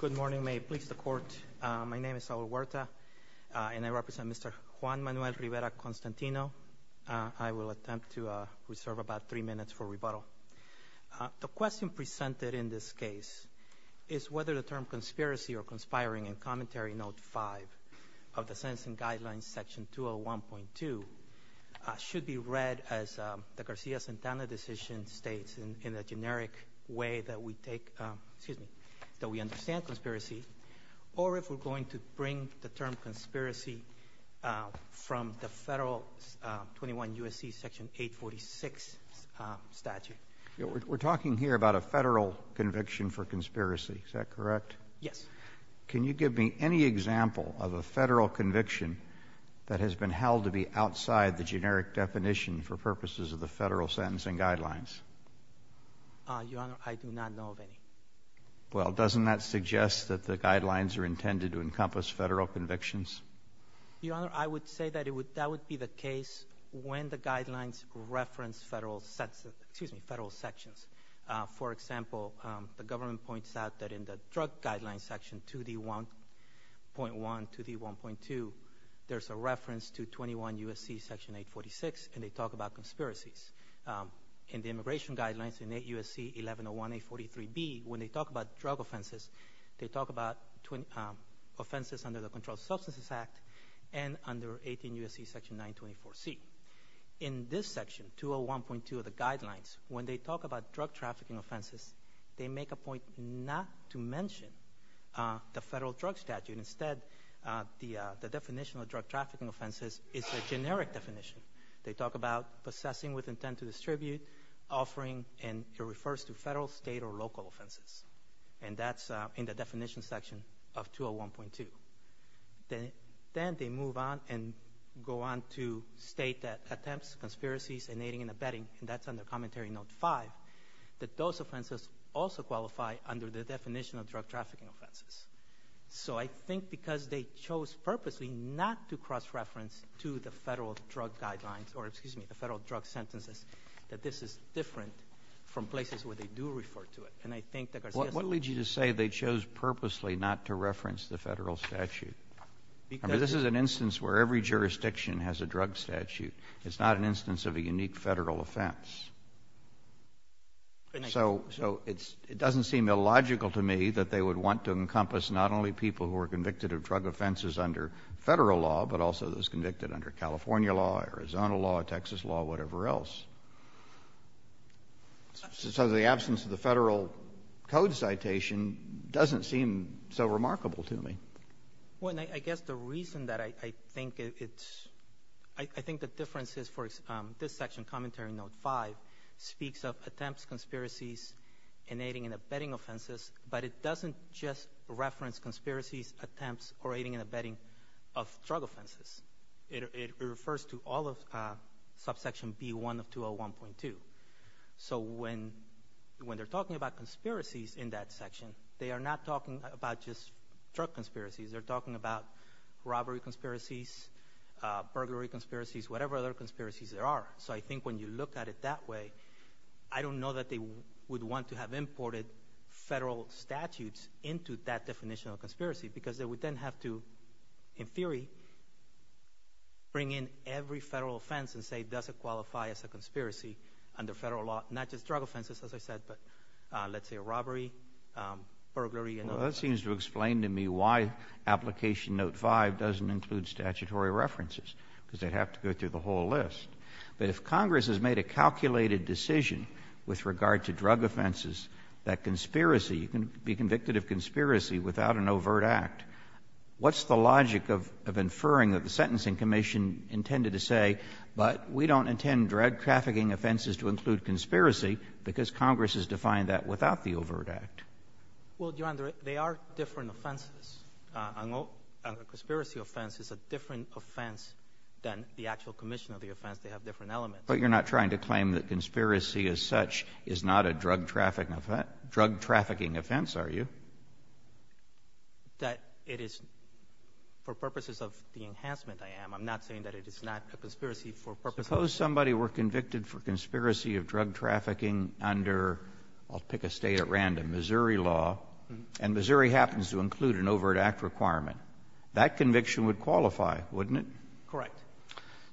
Good morning. May it please the Court, my name is Saul Huerta and I represent Mr. Juan Manuel Rivera-Constantino. I will attempt to reserve about three minutes for rebuttal. The question presented in this case is whether the term conspiracy or conspiring in Commentary Note 5 of the Sentencing Guidelines, Section 201.2 should be read as the Garcia-Santana decision states in a generic way that we take, excuse me, that we understand conspiracy, or if we're going to bring the term conspiracy from the Federal 21 U.S.C. Section 846 statute. We're talking here about a federal conviction for conspiracy, is that correct? Yes. Can you give me any example of a federal conviction that has been held to be outside the generic definition for purposes of the Federal Sentencing Guidelines? Your Honor, I do not know of any. Well, doesn't that suggest that the guidelines are intended to encompass federal convictions? Your Honor, I would say that it would, that would be the case when the guidelines reference federal, excuse me, federal sections. For example, the government points out that in Section 846 and they talk about conspiracies. In the Immigration Guidelines in 8 U.S.C. 1101A43B, when they talk about drug offenses, they talk about offenses under the Controlled Substances Act and under 18 U.S.C. Section 924C. In this section, 201.2 of the guidelines, when they talk about drug trafficking offenses, they make a point not to mention the federal drug statute. Instead, the definition of drug trafficking offenses is a generic definition. They talk about possessing with intent to distribute, offering, and it refers to federal, state, or local offenses. And that's in the definition section of 201.2. Then they move on and go on to state that attempts, conspiracies, inaiding, and abetting, and that's under Commentary Note 5, that those offenses also qualify under the definition of drug trafficking offenses. So I think because they chose purposely not to cross-reference to the federal drug guidelines or, excuse me, the federal drug sentences, that this is different from places where they do refer to it. And I think that Garcia's... What leads you to say they chose purposely not to reference the federal statute? I mean, this is an instance where every jurisdiction has a drug statute. It's not an instance of a unique federal offense. So it doesn't seem illogical to me that they would want to encompass not only people who are convicted of drug offenses under federal law, but also those convicted under California law, Arizona law, Texas law, whatever else. So the absence of the federal code citation doesn't seem so remarkable to me. Well, and I guess the reason that I think it's... I think the difference is, for this section, Commentary Note 5, speaks of attempts, conspiracies, inaiding, and abetting offenses, but it doesn't just reference conspiracies, attempts, or aiding and abetting of drug offenses. It refers to all of subsection B1 of 201.2. So when they're talking about conspiracies in that section, they are not talking about just drug conspiracies. They're talking about robbery conspiracies, burglary conspiracies, whatever other conspiracies there are. So I think when you look at it that way, I don't know that they would want to have imported federal statutes into that definition of conspiracy, because they would then have to, in theory, bring in every federal offense and say, does it qualify as a conspiracy under federal law? Not just drug offenses, as I said, but let's say a robbery, burglary, and other things. Well, that seems to explain to me why Application Note 5 doesn't include statutory references, because they'd have to go through the whole list. But if Congress has made a calculated decision with regard to drug offenses, that conspiracy, you can be convicted of conspiracy without an overt act, what's the logic of inferring that the Sentencing Commission intended to say, but we don't intend drug trafficking offenses to include conspiracy, because Congress has defined that without the overt act? Well, Your Honor, they are different offenses. A conspiracy offense is a different offense than the actual commission of the offense. They have different elements. But you're not trying to claim that conspiracy as such is not a drug trafficking offense, are you? That it is for purposes of the enhancement I am. I'm not saying that it is not a conspiracy for purposes of the enhancement. Suppose somebody were convicted for conspiracy of drug trafficking under, I'll pick a State at random, Missouri law, and Missouri happens to include an overt act requirement. That conviction would qualify, wouldn't it? Correct.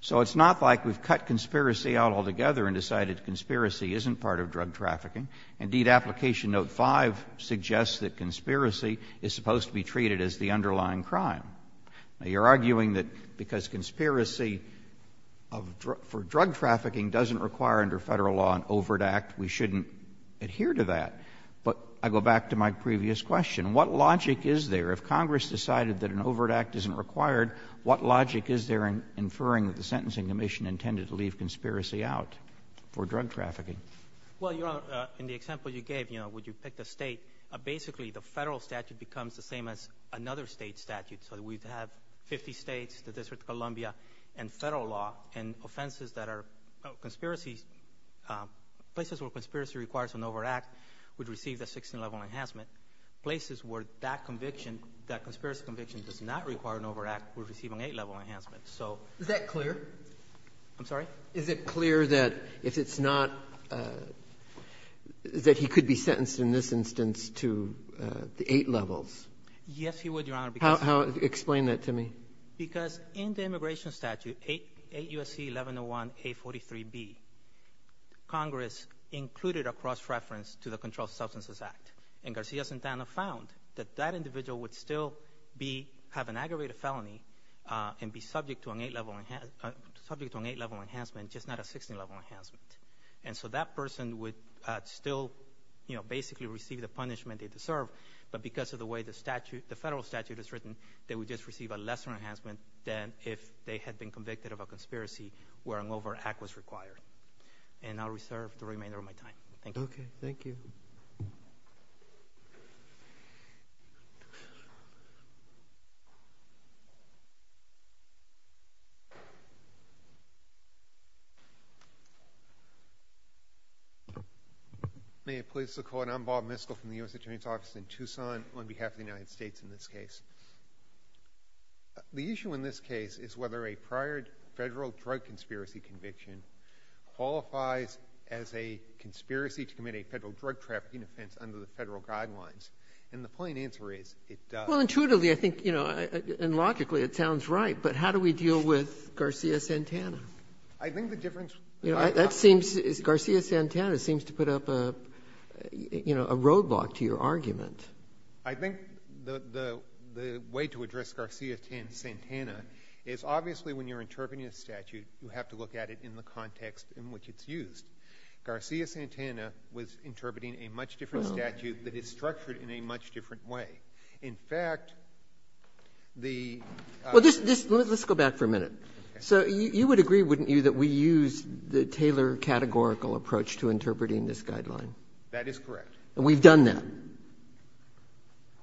So it's not like we've cut conspiracy out altogether and decided conspiracy isn't part of drug trafficking. Indeed, Application Note 5 suggests that conspiracy is supposed to be treated as the underlying crime. Now, you're arguing that because conspiracy for drug trafficking doesn't require under Federal law an overt act, we shouldn't adhere to that. But I go back to my previous question. What logic is there, if Congress decided that an overt act isn't required, what logic is there in inferring that the Sentencing Commission intended to leave conspiracy out for drug trafficking? Well, Your Honor, in the example you gave, you know, when you picked a State, basically the Federal statute becomes the same as another State statute. So we'd have 50 States, the District of Columbia, and Federal law, and offenses that are conspiracies, places where conspiracy requires an overt act would receive the 16-level enhancement. Places where that conviction, that conspiracy conviction, does not require an overt act would receive an 8-level enhancement. So Is that clear? I'm sorry? Is it clear that if it's not, that he could be sentenced in this instance to the 8 levels? Yes, he would, Your Honor, because How? Explain that to me. Because in the immigration statute, 8 U.S.C. 1101A43B, Congress included a cross-reference to the Controlled Substances Act. And Garcia-Santana found that that individual would still have an aggravated felony and be subject to an 8-level enhancement, just not a 16-level enhancement. And so that person would still, you know, basically receive the punishment they deserve, but because of the way the statute, the Federal statute is written, they would just receive a lesser enhancement than if they had been convicted of a conspiracy where an overt act was required. And I'll reserve the remainder of my time. Thank you. Okay. Thank you. May it please the Court, I'm Bob Miskell from the U.S. Attorney's Office in Tucson on behalf of the United States in this case. The issue in this case is whether a prior Federal drug conspiracy conviction qualifies as a conspiracy to commit a Federal drug trafficking offense under the Federal guidelines. And the plain answer is, it does. Well, intuitively, I think, you know, and logically, it sounds right. But how do we deal with Garcia-Santana? I think the difference between the two is that I'm not going to go into that. Garcia-Santana seems to put up a, you know, a roadblock to your argument. I think the way to address Garcia-Santana is, obviously, when you're interpreting a statute, you have to look at it in the context in which it's used. Garcia-Santana was interpreting a much different statute that is structured in a much different way. In fact, the ---- Well, let's go back for a minute. So you would agree, wouldn't you, that we use the Taylor categorical approach to interpreting this guideline? That is correct. And we've done that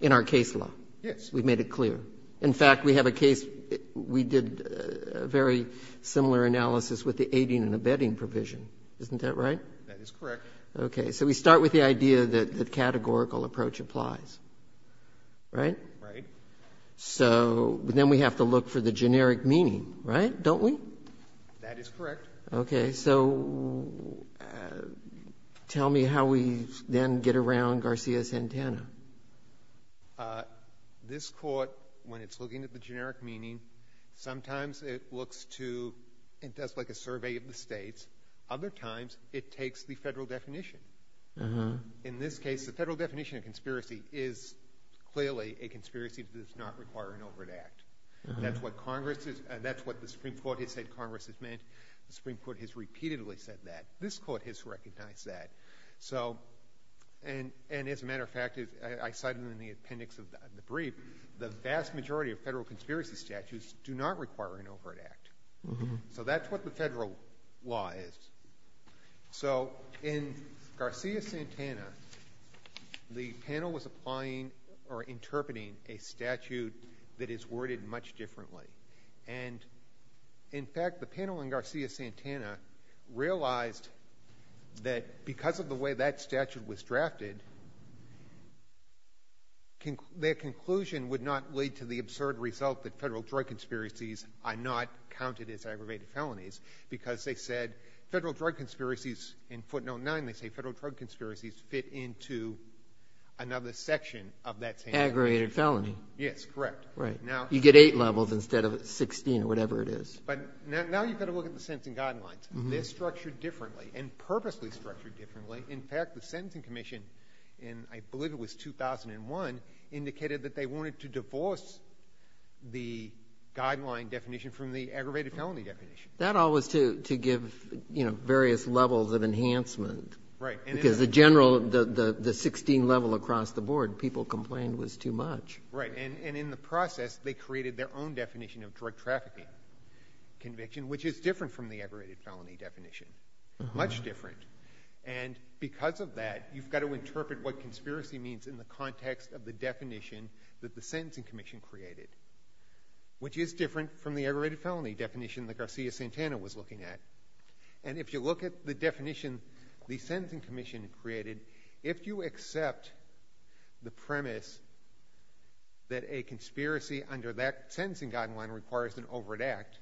in our case law. Yes. We've made it clear. In fact, we have a case, we did a very similar analysis with the aiding and abetting provision. Isn't that right? That is correct. Okay. So we start with the idea that the categorical approach applies. Right? Right. So then we have to look for the generic meaning. Right? Don't we? That is correct. Okay. So tell me how we then get around Garcia-Santana. This court, when it's looking at the generic meaning, sometimes it looks to, it does like a survey of the states. Other times, it takes the federal definition. In this case, the federal definition of conspiracy is clearly a conspiracy that is not requiring an overt act. That's what Congress is, that's what the Supreme Court has said Congress has meant. The Supreme Court has repeatedly said that. This court has recognized that. And as a matter of fact, I cited in the appendix of the brief, the vast majority of federal conspiracy statutes do not require an overt act. So that's what the federal law is. So in Garcia-Santana, the panel was applying or interpreting a statute that is worded much differently. And in fact, the panel in Garcia-Santana realized that because of the way that statute was drafted, their conclusion would not lead to the absurd result that federal drug conspiracies are not counted as aggravated felonies. Because they said federal drug conspiracies, in footnote 9, they say federal drug conspiracies fit into another section of that statute. Aggravated felony. Yes, correct. Right. You get eight levels instead of 16 or whatever it is. But now you've got to look at the sentencing guidelines. They're structured differently and purposely structured differently. In fact, the sentencing commission, and I believe it was 2001, indicated that they wanted to divorce the guideline definition from the aggravated felony definition. That all was to give various levels of enhancement. Right. Because the general, the 16 level across the board, people complained was too much. Right. And in the process, they created their own definition of drug trafficking conviction, which is different from the aggravated felony definition. Much different. And because of that, you've got to interpret what conspiracy means in the context of the definition that the sentencing commission created, which is different from the aggravated felony definition that Garcia-Santana was looking at. And if you look at the definition the sentencing commission created, if you accept the premise that a conspiracy under that sentencing guideline requires an overt act,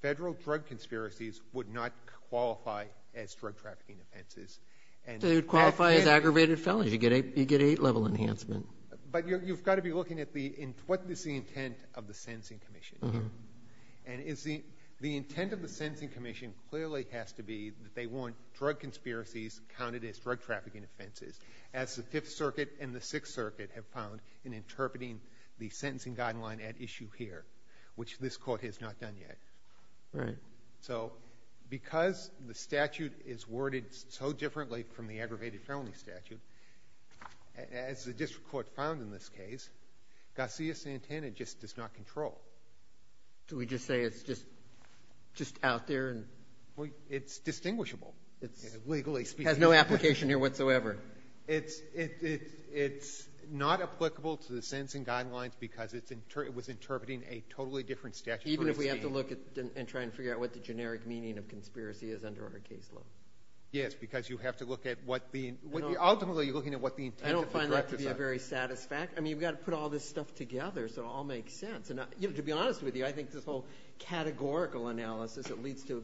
federal drug conspiracies would not qualify as drug trafficking offenses. They would qualify as aggravated felonies. You get eight level enhancement. But you've got to be looking at what is the intent of the sentencing commission here. And the intent of the sentencing commission clearly has to be that they drug trafficking offenses, as the Fifth Circuit and the Sixth Circuit have found in interpreting the sentencing guideline at issue here, which this Court has not done yet. Right. So, because the statute is worded so differently from the aggravated felony statute, as the district court found in this case, Garcia-Santana just does not control. Do we just say it's just out there? It's distinguishable. Legally speaking. It has no application here whatsoever. It's not applicable to the sentencing guidelines because it was interpreting a totally different statute. Even if we have to look and try and figure out what the generic meaning of conspiracy is under our caseload. Yes, because you have to look at what the, ultimately, you're looking at what the intent of the drug is. I don't find that to be a very satisfactory. I mean, you've got to put all this stuff together so it all makes sense. And to be honest with you, I think this whole categorical analysis, it leads to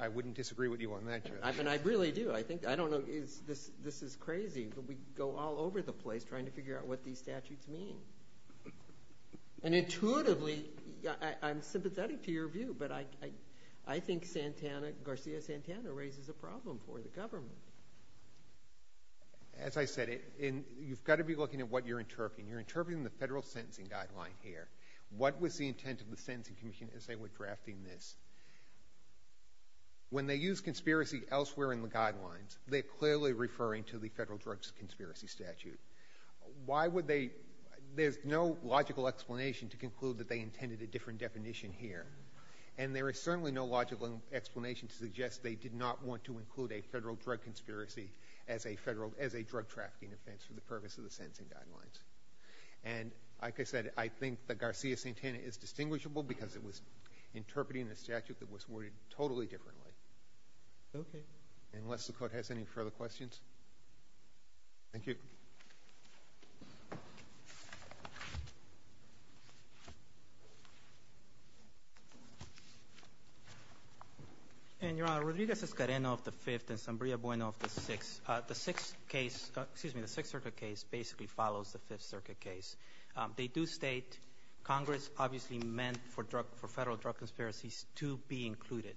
I wouldn't disagree with you on that, Judge. I really do. I don't know, this is crazy, but we go all over the place trying to figure out what these statutes mean. And intuitively, I'm sympathetic to your view, but I think Garcia-Santana raises a problem for the government. As I said, you've got to be looking at what you're interpreting. You're interpreting the federal sentencing guideline here. What was the intent of the Sentencing Commission as they were drafting this? When they use conspiracy elsewhere in the guidelines, they're clearly referring to the federal drugs conspiracy statute. Why would they? There's no logical explanation to conclude that they intended a different definition here. And there is certainly no logical explanation to suggest they did not want to include a federal drug conspiracy as a drug trafficking offense for the purpose of the sentencing guidelines. And like I said, I think that Garcia-Santana is distinguishable because it was interpreting the statute that was worded totally differently. Okay. Unless the Court has any further questions. Thank you. Your Honor, Rodriguez-Escarreno of the Fifth and Zambria Bueno of the Sixth. The Sixth Circuit case basically follows the Fifth Circuit case. They do state Congress obviously meant for federal drug conspiracies to be included.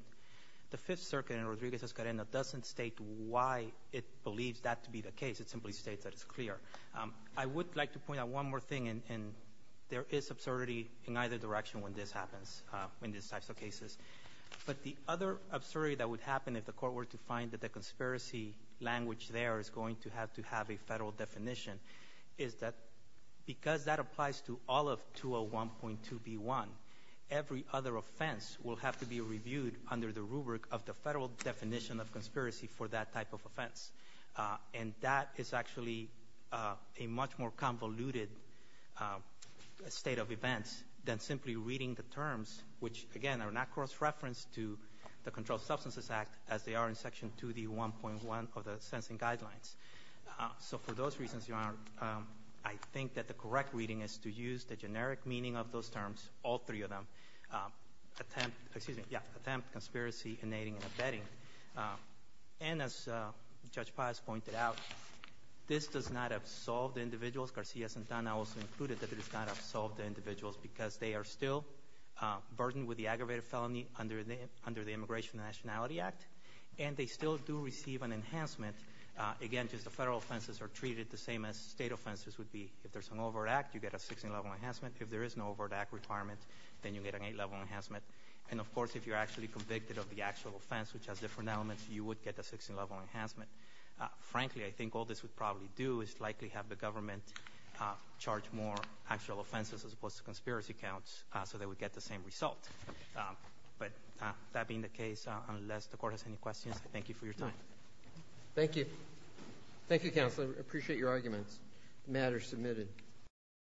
The Fifth Circuit in Rodriguez-Escarreno doesn't state why it believes that to be the case. It simply states that it's clear. I would like to point out one more thing. And there is absurdity in either direction when this happens, when these types of cases. But the other absurdity that would happen if the Court were to find that the conspiracy language there is going to have to have a federal definition is that because that applies to all of 201.2b1, every other offense will have to be reviewed under the rubric of the federal definition of conspiracy for that type of offense. And that is actually a much more convoluted state of events than simply reading the terms which, again, are not cross-referenced to the Controlled Substances Act as they are in Section 2d1.1 of the sentencing guidelines. So for those reasons, Your Honor, I think that the correct reading is to use the generic meaning of those terms, all three of them, attempt, excuse me, yeah, attempt, conspiracy, innating, and abetting. And as Judge Paz pointed out, this does not absolve the individuals. Garcia-Santana also included that it does not absolve the individuals because they are still burdened with the aggravated felony under the Immigration and Nationality Act. And they still do receive an enhancement. Again, just the federal offenses are treated the same as state offenses would be. If there's an overt act, you get a 16-level enhancement. If there is no overt act requirement, then you get an 8-level enhancement. And, of course, if you're actually convicted of the actual offense, which has different elements, you would get a 16-level enhancement. Frankly, I think all this would probably do is likely have the government charge more actual offenses as opposed to conspiracy counts so they would get the same result. But that being the case, unless the Court has any questions, I thank you for your time. Thank you. Thank you, Counselor. I appreciate your arguments. The matter is submitted.